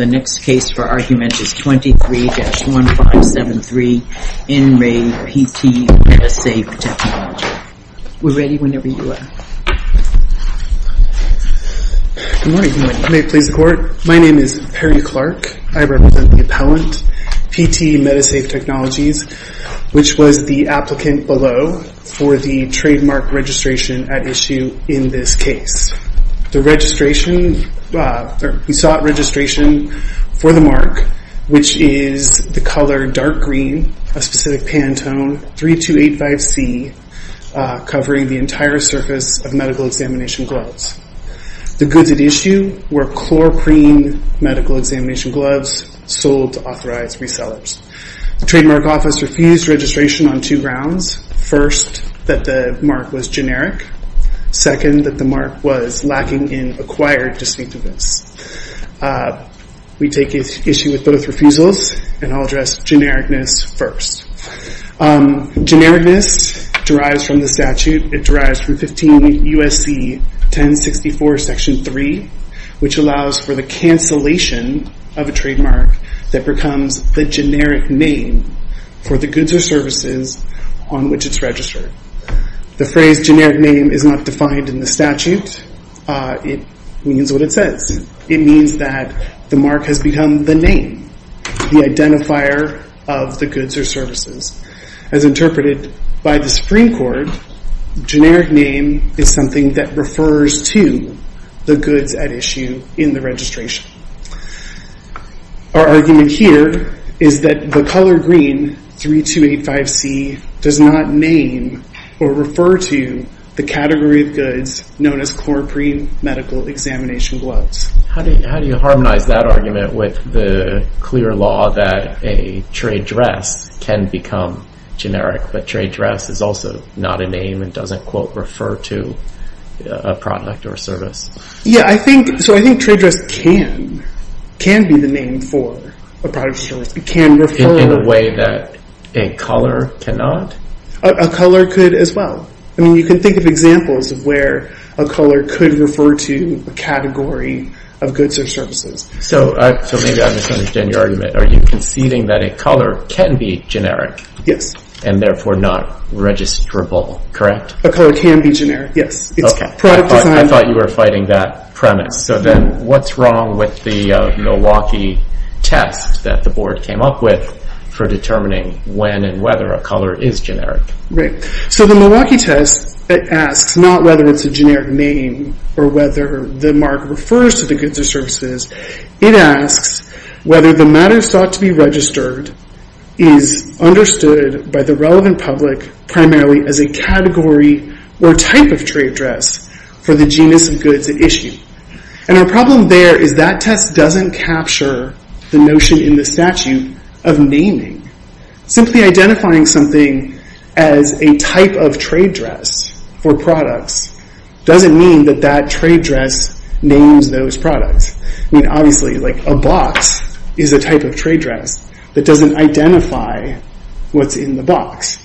The next case for argument is 23-1573, In Re, PT Medisafe Technologies. We're ready whenever you are. Good morning. Good morning. May it please the Court? My name is Perry Clark. I represent the appellant, PT Medisafe Technologies, which was the applicant below for the trademark registration at issue in this case. The registration, we sought registration for the mark, which is the color dark green, a specific Pantone 3285C, covering the entire surface of medical examination gloves. The goods at issue were chloroprene medical examination gloves sold to authorized resellers. The trademark office refused registration on two grounds. First, that the mark was generic. Second, that the mark was lacking in acquired distinctiveness. We take issue with both refusals, and I'll address genericness first. Genericness derives from the statute. It derives from 15 U.S.C. 1064, Section 3, which allows for the cancellation of a trademark that becomes the generic name for the goods or services on which it's registered. The phrase generic name is not defined in the statute. It means what it says. It means that the mark has become the name, the identifier of the goods or services. As interpreted by the Supreme Court, generic name is something that refers to the goods at issue in the registration. Our argument here is that the color green 3285C does not name or refer to the category of goods known as chloroprene medical examination gloves. How do you harmonize that argument with the clear law that a trade dress can become generic, but trade dress is also not a name and doesn't, quote, refer to a product or service? Yeah, so I think trade dress can be the name for a product or service. It can refer. In a way that a color cannot? A color could as well. I mean, you can think of examples of where a color could refer to a category of goods or services. So maybe I misunderstood your argument. Are you conceding that a color can be generic? Yes. And therefore not registrable, correct? A color can be generic, yes. I thought you were fighting that premise. So then what's wrong with the Milwaukee test that the board came up with for determining when and whether a color is generic? So the Milwaukee test asks not whether it's a generic name or whether the mark refers to the goods or services. It asks whether the matter sought to be registered is understood by the relevant public primarily as a category or type of trade dress for the genus of goods at issue. And our problem there is that test doesn't capture the notion in the statute of naming. Simply identifying something as a type of trade dress for products doesn't mean that that trade dress names those products. I mean, obviously a box is a type of trade dress that doesn't identify what's in the box.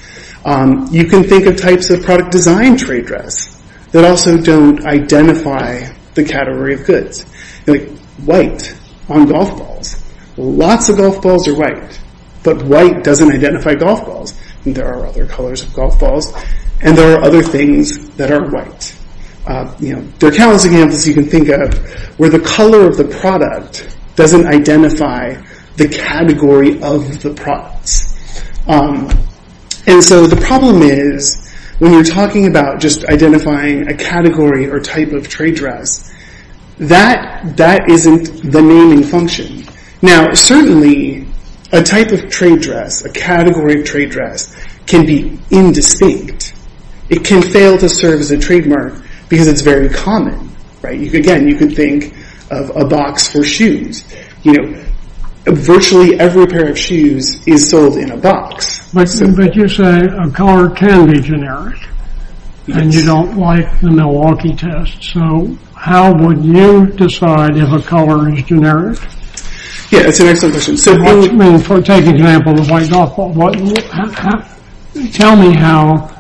You can think of types of product design trade dress that also don't identify the category of goods. Like white on golf balls. Lots of golf balls are white, but white doesn't identify golf balls. There are other colors of golf balls, and there are other things that aren't white. There are countless examples you can think of where the color of the product doesn't identify the category of the products. And so the problem is when you're talking about just identifying a category or type of trade dress, that isn't the naming function. Now, certainly a type of trade dress, a category of trade dress, can be indistinct. It can fail to serve as a trademark because it's very common. Again, you can think of a box for shoes. Virtually every pair of shoes is sold in a box. But you say a color can be generic, and you don't like the Milwaukee test. So how would you decide if a color is generic? Yeah, that's an excellent question. Take an example of a white golf ball. Tell me how,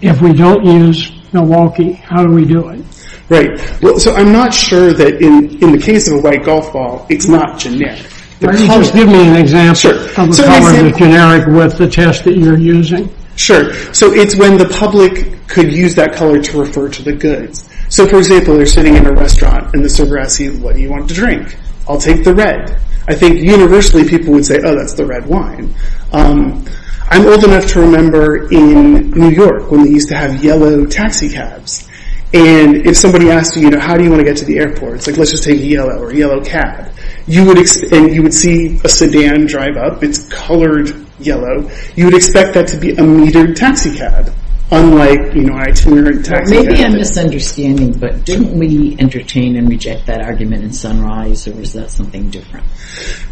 if we don't use Milwaukee, how do we do it? Right. So I'm not sure that in the case of a white golf ball, it's not generic. Just give me an example of a color that's generic with the test that you're using. Sure. So it's when the public could use that color to refer to the goods. So for example, you're sitting in a restaurant, and the server asks you, what do you want to drink? I'll take the red. I think universally people would say, oh, that's the red wine. I'm old enough to remember in New York when they used to have yellow taxicabs. And if somebody asked you, how do you want to get to the airport? It's like, let's just take yellow or yellow cab. And you would see a sedan drive up. It's colored yellow. You would expect that to be a metered taxicab, unlike itinerant taxicabs. Maybe I'm misunderstanding, but didn't we entertain and reject that argument in Sunrise, or is that something different?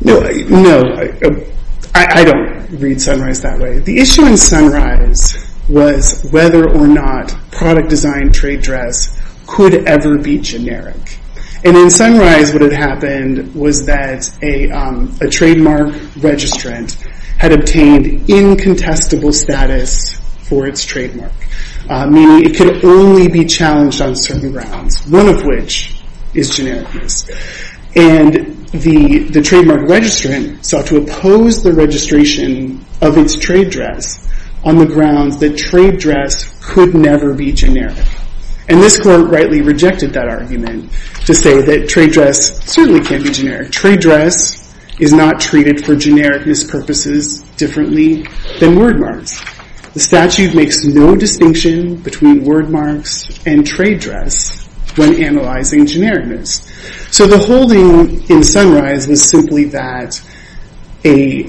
No. I don't read Sunrise that way. The issue in Sunrise was whether or not product design trade dress could ever be generic. And in Sunrise, what had happened was that a trademark registrant had obtained incontestable status for its trademark, meaning it could only be challenged on certain grounds, one of which is genericness. And the trademark registrant sought to oppose the registration of its trade dress on the grounds that trade dress could never be generic. And this court rightly rejected that argument to say that trade dress certainly can be generic. Trade dress is not treated for genericness purposes differently than word marks. The statute makes no distinction between word marks and trade dress when analyzing genericness. So the holding in Sunrise was simply that a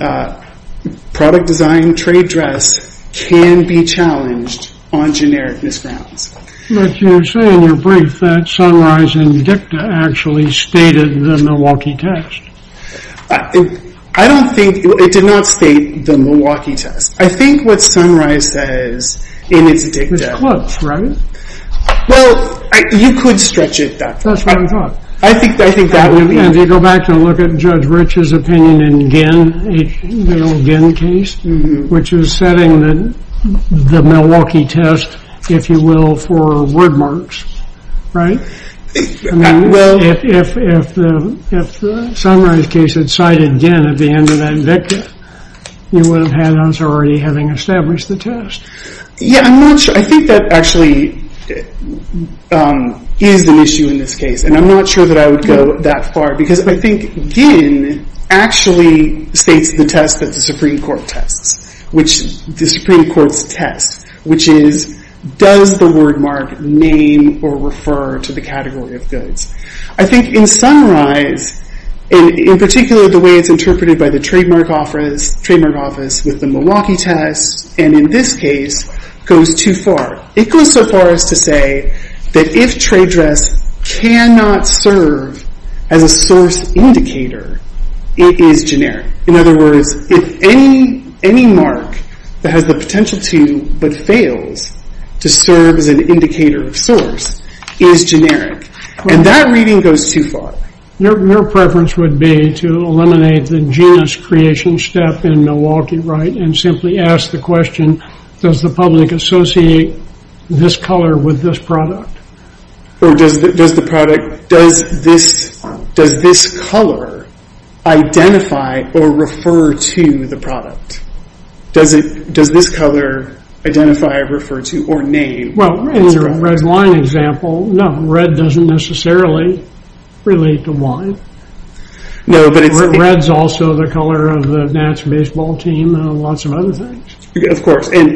product design trade dress can be challenged on genericness grounds. But you say in your brief that Sunrise and DICTA actually stated the Milwaukee test. I don't think it did not state the Milwaukee test. I think what Sunrise says in its DICTA. With clubs, right? Well, you could stretch it that far. That's what I thought. I think that would be. And if you go back and look at Judge Rich's opinion in Ginn, the old Ginn case, which is setting the Milwaukee test, if you will, for word marks, right? If the Sunrise case had cited Ginn at the end of that DICTA, you would have had us already having established the test. Yeah, I'm not sure. I think that actually is an issue in this case. And I'm not sure that I would go that far because I think Ginn actually states the test that the Supreme Court tests, the Supreme Court's test, which is, does the word mark name or refer to the category of goods? I think in Sunrise, in particular, the way it's interpreted by the Trademark Office with the Milwaukee test, and in this case, goes too far. It goes so far as to say that if trade dress cannot serve as a source indicator, it is generic. In other words, if any mark that has the potential to but fails to serve as an indicator of source is generic. And that reading goes too far. Your preference would be to eliminate the genus creation step in Milwaukee, right? And simply ask the question, does the public associate this color with this product? Or does the product, does this color identify or refer to the product? Does this color identify, refer to, or name? Well, in the red wine example, no, red doesn't necessarily relate to wine. No, but it's... Red's also the color of the National Baseball Team and lots of other things. Of course, and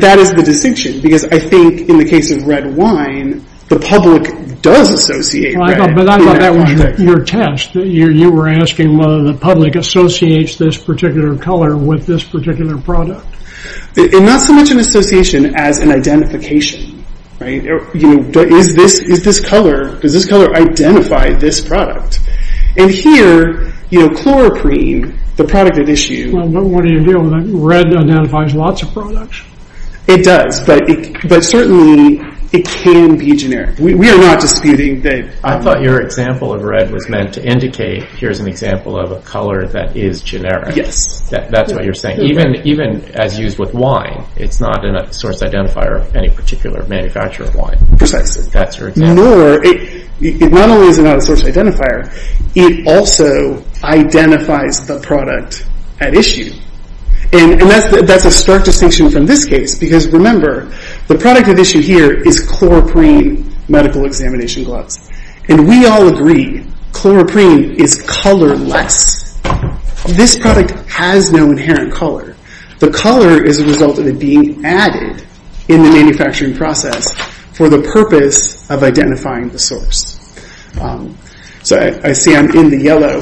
that is the distinction. Because I think in the case of red wine, the public does associate red. But I thought that was your test. You were asking whether the public associates this particular color with this particular product. Not so much an association as an identification, right? Is this color, does this color identify this product? And here, chloroprene, the product at issue... What do you do with that? Red identifies lots of products? It does, but certainly it can be generic. We are not disputing that... I thought your example of red was meant to indicate, here's an example of a color that is generic. Yes. That's what you're saying. Even as used with wine, it's not a source identifier of any particular manufacturer of wine. Precisely. That's your example. It not only is not a source identifier, it also identifies the product at issue. And that's a stark distinction from this case. Because remember, the product at issue here is chloroprene medical examination gloves. And we all agree, chloroprene is colorless. This product has no inherent color. The color is a result of it being added in the manufacturing process for the purpose of identifying the source. So I see I'm in the yellow.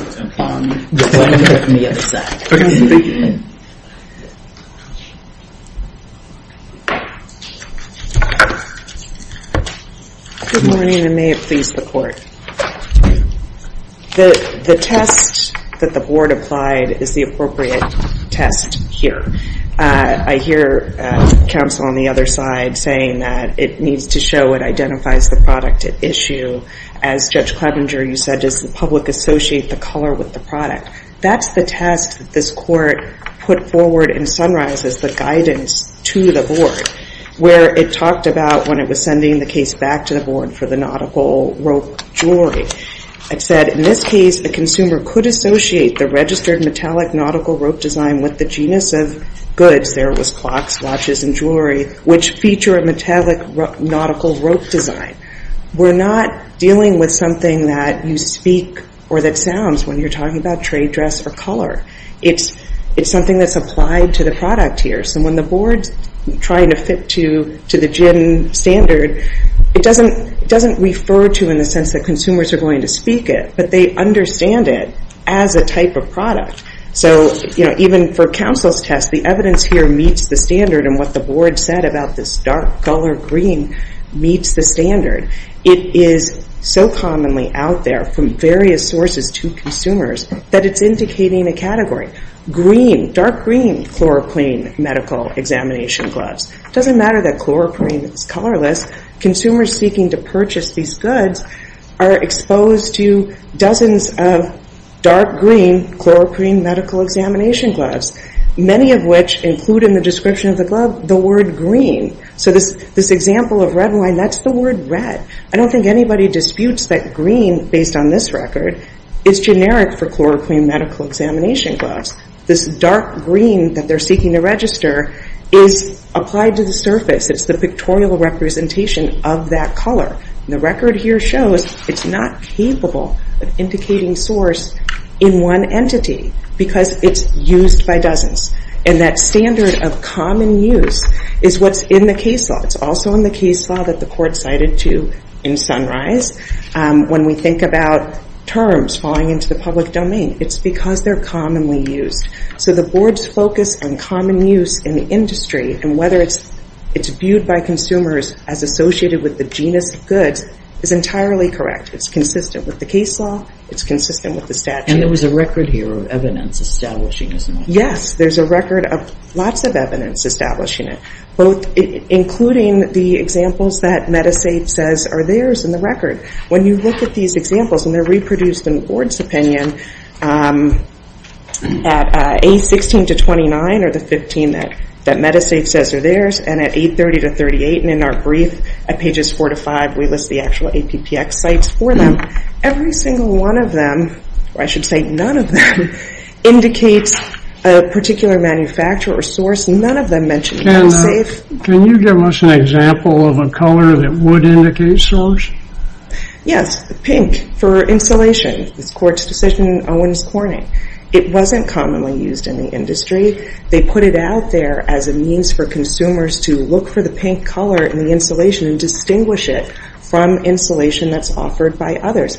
Good morning, and may it please the court. The test that the board applied is the appropriate test here. I hear counsel on the other side saying that it needs to show it identifies the product at issue. As Judge Klebinger, you said, does the public associate the color with the product? That's the test that this court put forward and summarizes the guidance to the board, where it talked about when it was sending the case back to the board for the nautical rope jewelry. It said, in this case, the consumer could associate the registered metallic nautical rope design with the genus of goods, there was clocks, watches, and jewelry, which feature a metallic nautical rope design. We're not dealing with something that you speak or that sounds when you're talking about trade dress or color. It's something that's applied to the product here. So when the board's trying to fit to the gen standard, it doesn't refer to in the sense that consumers are going to speak it, but they understand it as a type of product. So even for counsel's test, the evidence here meets the standard, and what the board said about this dark color green meets the standard. It is so commonly out there from various sources to consumers that it's indicating a category. Green, dark green chloroprene medical examination gloves. It doesn't matter that chloroprene is colorless. Consumers seeking to purchase these goods are exposed to dozens of dark green chloroprene medical examination gloves, many of which include in the description of the glove the word green. So this example of red wine, that's the word red. I don't think anybody disputes that green, based on this record, is generic for chloroprene medical examination gloves. This dark green that they're seeking to register is applied to the surface. It's the pictorial representation of that color. And the record here shows it's not capable of indicating source in one entity because it's used by dozens. And that standard of common use is what's in the case law. It's also in the case law that the court cited too in Sunrise. When we think about terms falling into the public domain, it's because they're commonly used. So the board's focus on common use in the industry and whether it's viewed by consumers as associated with the genus of goods is entirely correct. It's consistent with the case law. It's consistent with the statute. And there was a record here of evidence establishing this. Yes, there's a record of lots of evidence establishing it, including the examples that Medisave says are theirs in the record. When you look at these examples, and they're reproduced in the board's opinion, at A16 to 29 are the 15 that Medisave says are theirs, and at A30 to 38, and in our brief at pages 4 to 5, we list the actual APPX sites for them. Every single one of them, or I should say none of them, indicates a particular manufacturer or source. None of them mention Medisave. Can you give us an example of a color that would indicate source? Yes, pink for insulation. This court's decision in Owens Corning. It wasn't commonly used in the industry. They put it out there as a means for consumers to look for the pink color in the insulation and distinguish it from insulation that's offered by others.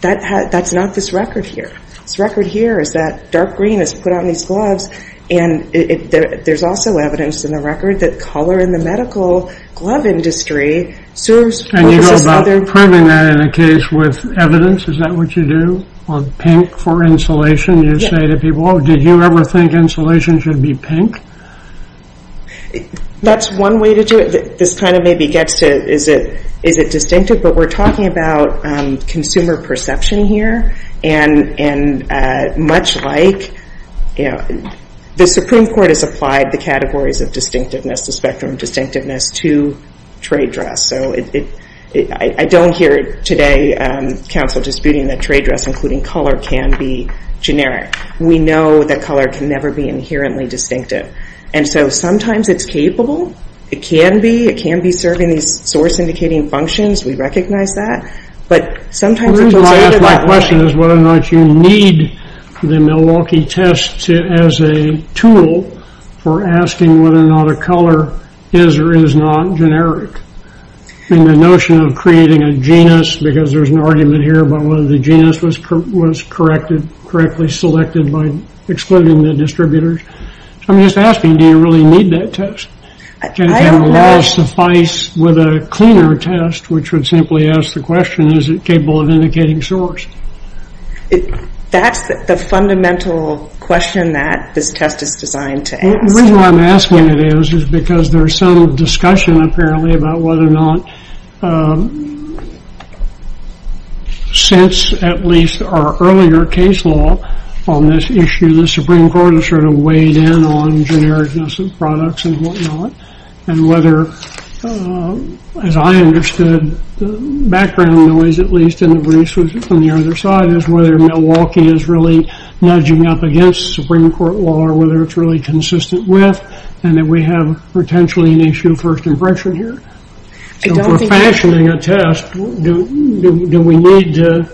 That's not this record here. This record here is that dark green is put on these gloves, and there's also evidence in the record that color in the medical glove industry serves versus other. Can you go about proving that in a case with evidence? Is that what you do on pink for insulation? You say to people, oh, did you ever think insulation should be pink? That's one way to do it. This kind of maybe gets to is it distinctive, but we're talking about consumer perception here, and much like the Supreme Court has applied the categories of distinctiveness, the spectrum of distinctiveness, to trade dress. So I don't hear today counsel disputing that trade dress, including color, can be generic. We know that color can never be inherently distinctive, and so sometimes it's capable. It can be. It can be serving these source-indicating functions. We recognize that. The reason I ask my question is whether or not you need the Milwaukee test as a tool for asking whether or not a color is or is not generic, and the notion of creating a genus, because there's an argument here about whether the genus was correctly selected by excluding the distributors. I'm just asking, do you really need that test? Would it suffice with a cleaner test, which would simply ask the question, is it capable of indicating source? That's the fundamental question that this test is designed to ask. The reason I'm asking it is because there's some discussion, apparently, about whether or not since at least our earlier case law on this issue, the Supreme Court has sort of weighed in on genericness of products and whatnot, and whether, as I understood, the background noise, at least in the briefs on the other side, is whether Milwaukee is really nudging up against Supreme Court law or whether it's really consistent with, and that we have potentially an issue first impression here. So if we're fashioning a test, do we need to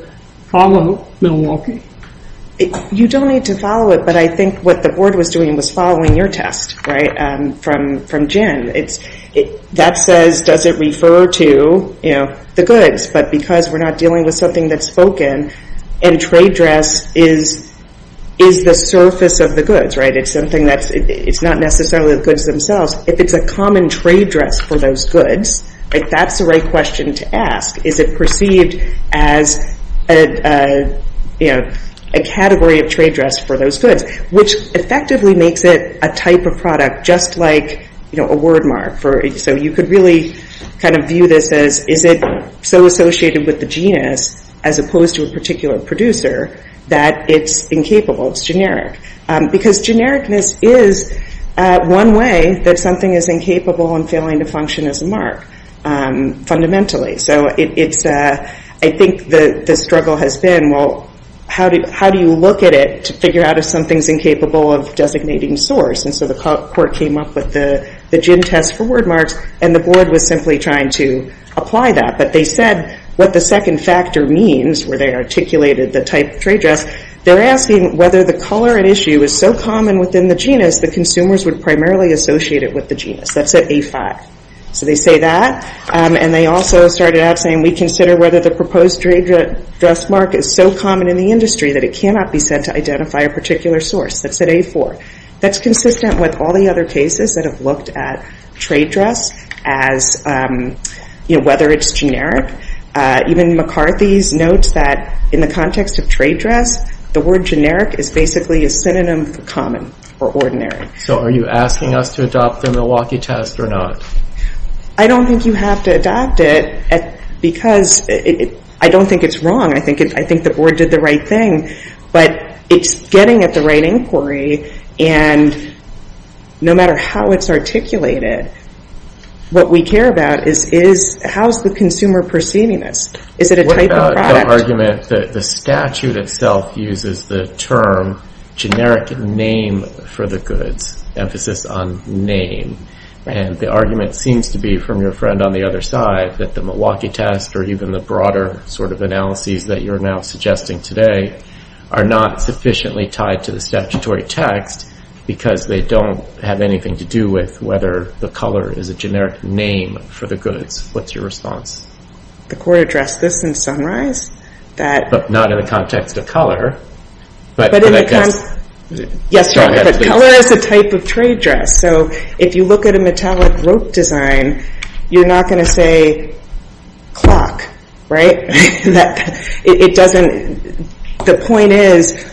follow Milwaukee? You don't need to follow it, but I think what the board was doing was following your test from Jen. That says, does it refer to the goods? But because we're not dealing with something that's spoken, and trade dress is the surface of the goods, it's not necessarily the goods themselves, if it's a common trade dress for those goods, that's the right question to ask. Is it perceived as a category of trade dress for those goods, which effectively makes it a type of product, just like a word mark. So you could really kind of view this as, is it so associated with the genus, as opposed to a particular producer, that it's incapable, it's generic. Because genericness is one way that something is incapable and failing to function as a mark, fundamentally. So I think the struggle has been, well, how do you look at it to figure out if something's incapable of designating source? And so the court came up with the gen test for word marks, and the board was simply trying to apply that. But they said what the second factor means, where they articulated the type of trade dress, they're asking whether the color at issue is so common within the genus, the consumers would primarily associate it with the genus. That's at A5. So they say that, and they also started out saying, we consider whether the proposed trade dress mark is so common in the industry that it cannot be said to identify a particular source. That's at A4. That's consistent with all the other cases that have looked at trade dress as whether it's generic. Even McCarthy's notes that in the context of trade dress, the word generic is basically a synonym for common or ordinary. So are you asking us to adopt the Milwaukee test or not? I don't think you have to adopt it because I don't think it's wrong. I think the board did the right thing. But it's getting at the right inquiry, and no matter how it's articulated, what we care about is how's the consumer perceiving this? Is it a type of product? The statute itself uses the term generic name for the goods, emphasis on name. And the argument seems to be from your friend on the other side that the Milwaukee test or even the broader sort of analyses that you're now suggesting today are not sufficiently tied to the statutory text because they don't have anything to do with whether the color is a generic name for the goods. What's your response? The court addressed this in Sunrise. But not in the context of color. Yes, but color is a type of trade dress. So if you look at a metallic rope design, you're not going to say clock, right? The point is,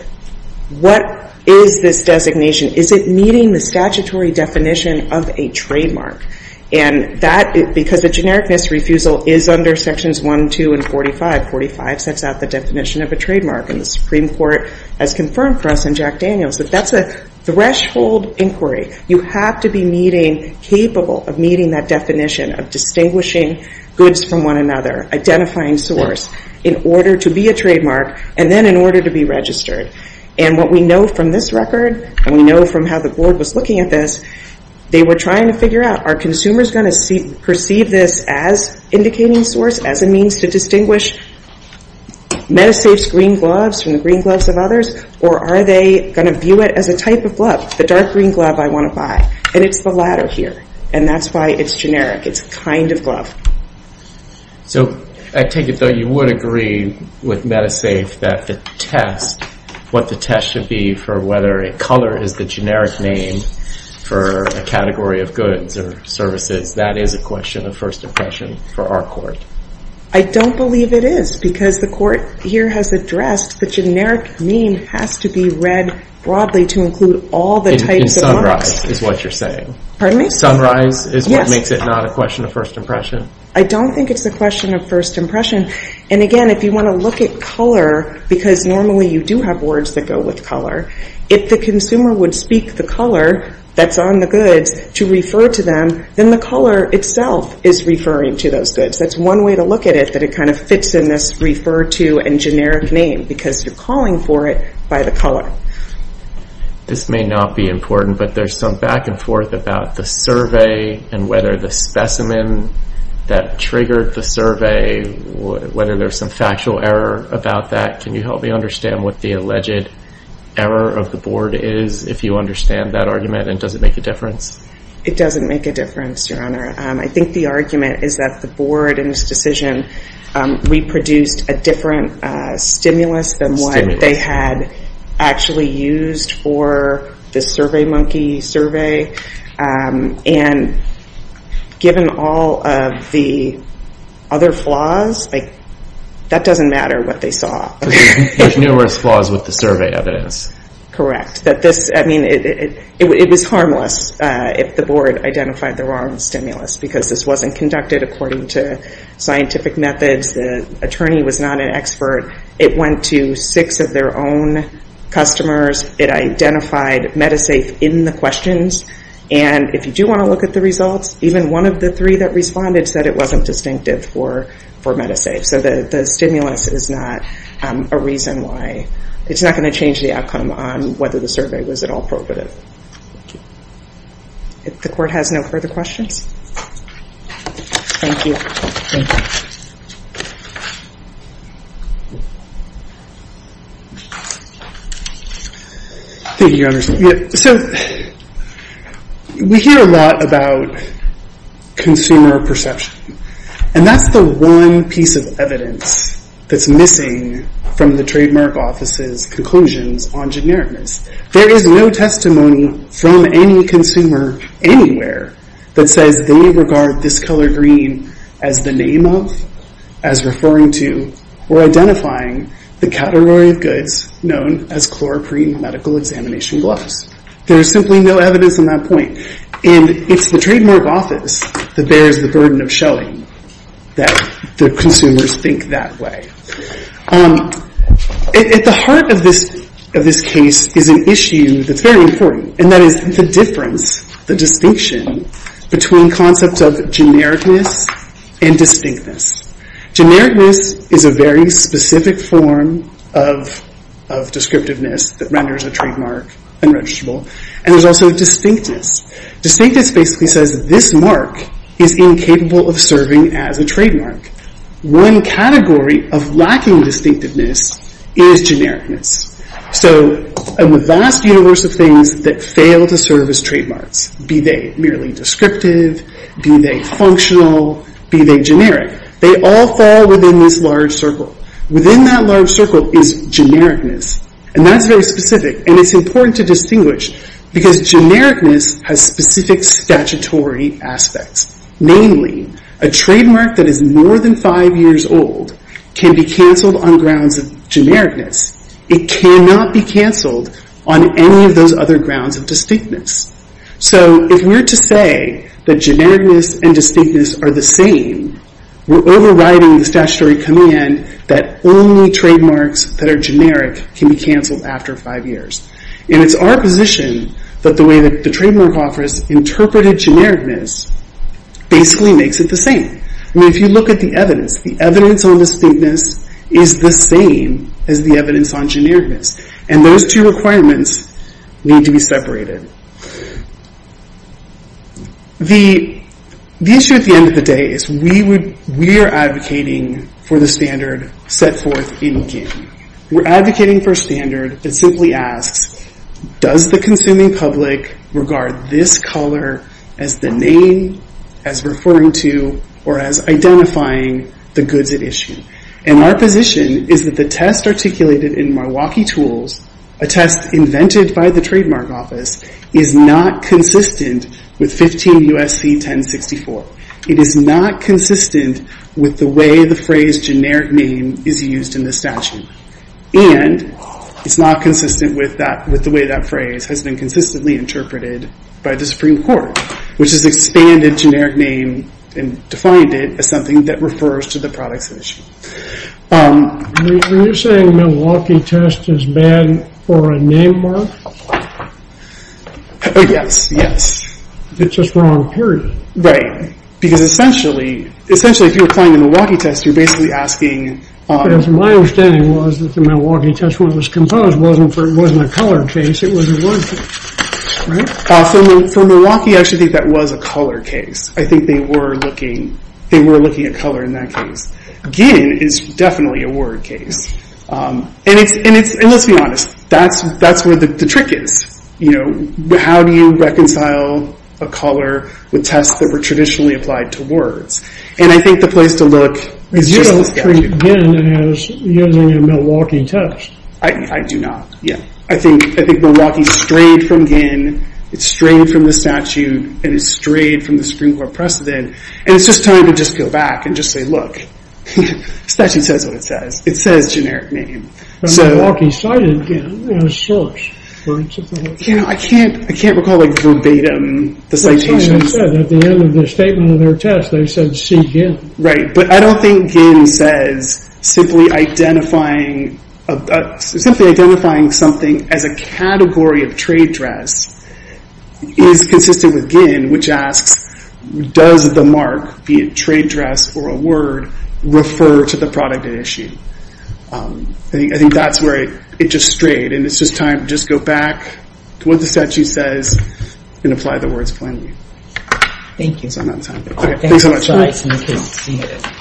what is this designation? Is it meeting the statutory definition of a trademark? Because a generic misrefusal is under Sections 1, 2, and 45. 45 sets out the definition of a trademark. And the Supreme Court has confirmed for us in Jack Daniels that that's a threshold inquiry. You have to be capable of meeting that definition of distinguishing goods from one another, identifying source, in order to be a trademark, and then in order to be registered. And what we know from this record, and we know from how the board was looking at this, they were trying to figure out, are consumers going to perceive this as indicating source, as a means to distinguish MetaSafe's green gloves from the green gloves of others? Or are they going to view it as a type of glove, the dark green glove I want to buy? And it's the latter here, and that's why it's generic. It's a kind of glove. So I take it, though, you would agree with MetaSafe that the test, what the test should be for whether a color is the generic name for a category of goods or services, that is a question of first impression for our court. I don't believe it is, because the court here has addressed the generic name has to be read broadly to include all the types of marks. In sunrise is what you're saying. Pardon me? Sunrise is what makes it not a question of first impression? I don't think it's a question of first impression. And, again, if you want to look at color, because normally you do have words that go with color, if the consumer would speak the color that's on the goods to refer to them, then the color itself is referring to those goods. That's one way to look at it, that it kind of fits in this refer to and generic name, because you're calling for it by the color. This may not be important, but there's some back and forth about the survey and whether the specimen that triggered the survey, whether there's some factual error about that. Can you help me understand what the alleged error of the board is, if you understand that argument, and does it make a difference? It doesn't make a difference, Your Honor. I think the argument is that the board in this decision reproduced a different stimulus than what they had actually used for the Survey Monkey survey. And given all of the other flaws, that doesn't matter what they saw. There's numerous flaws with the survey evidence. Correct. It was harmless if the board identified the wrong stimulus, because this wasn't conducted according to scientific methods. The attorney was not an expert. It went to six of their own customers. It identified Medisafe in the questions. And if you do want to look at the results, even one of the three that responded said it wasn't distinctive for Medisafe. So the stimulus is not a reason why. It's not going to change the outcome on whether the survey was at all appropriate. Thank you. The court has no further questions. Thank you. Thank you. Thank you, Your Honor. So we hear a lot about consumer perception. And that's the one piece of evidence that's missing from the Trademark Office's conclusions on genericness. There is no testimony from any consumer anywhere that says they regard this color green as the name of, as referring to, or identifying the category of goods known as chloroprene medical examination gloves. There is simply no evidence on that point. And it's the Trademark Office that bears the burden of showing that the consumers think that way. At the heart of this case is an issue that's very important, and that is the difference, the distinction, between concepts of genericness and distinctness. Genericness is a very specific form of descriptiveness that renders a trademark unregisterable. And there's also distinctness. Distinctness basically says this mark is incapable of serving as a trademark. One category of lacking distinctiveness is genericness. So in the vast universe of things that fail to serve as trademarks, be they merely descriptive, be they functional, be they generic, they all fall within this large circle. Within that large circle is genericness. And that's very specific, and it's important to distinguish because genericness has specific statutory aspects. Namely, a trademark that is more than five years old can be canceled on grounds of genericness. It cannot be canceled on any of those other grounds of distinctness. So if we're to say that genericness and distinctness are the same, we're overriding the statutory command that only trademarks that are generic can be canceled after five years. And it's our position that the way that the Trademark Office interpreted genericness basically makes it the same. I mean, if you look at the evidence, the evidence on distinctness is the same as the evidence on genericness. And those two requirements need to be separated. The issue at the end of the day is we are advocating for the standard set forth in GING. We're advocating for a standard that simply asks, does the consuming public regard this color as the name, as referring to, or as identifying the goods at issue? And our position is that the test articulated in Milwaukee Tools, a test invented by the Trademark Office, is not consistent with 15 U.S.C. 1064. It is not consistent with the way the phrase generic name is used in the statute. And it's not consistent with the way that phrase has been consistently interpreted by the Supreme Court, which has expanded generic name and defined it as something that refers to the products at issue. When you're saying Milwaukee test is bad for a name mark? Yes, yes. It's a strong period. Right. Because essentially, if you're applying the Milwaukee test, you're basically asking... Because my understanding was that the Milwaukee test, when it was composed, wasn't a color case. It was a word case, right? For Milwaukee, I actually think that was a color case. I think they were looking at color in that case. GIN is definitely a word case. And let's be honest, that's where the trick is. How do you reconcile a color with tests that were traditionally applied to words? And I think the place to look is just the statute. You don't treat GIN as using a Milwaukee test. I do not, yeah. I think Milwaukee strayed from GIN. It strayed from the statute. And it strayed from the Supreme Court precedent. And it's just time to just go back and just say, look. Statute says what it says. It says generic name. Milwaukee cited GIN as source. I can't recall verbatim the citation. At the end of the statement of their test, they said see GIN. Right. But I don't think GIN says simply identifying something as a category of trade dress is consistent with GIN, which asks, does the mark, be it trade dress or a word, refer to the product at issue? I think that's where it just strayed. And it's just time to just go back to what the statute says and apply the words plainly. Thank you. Thanks so much.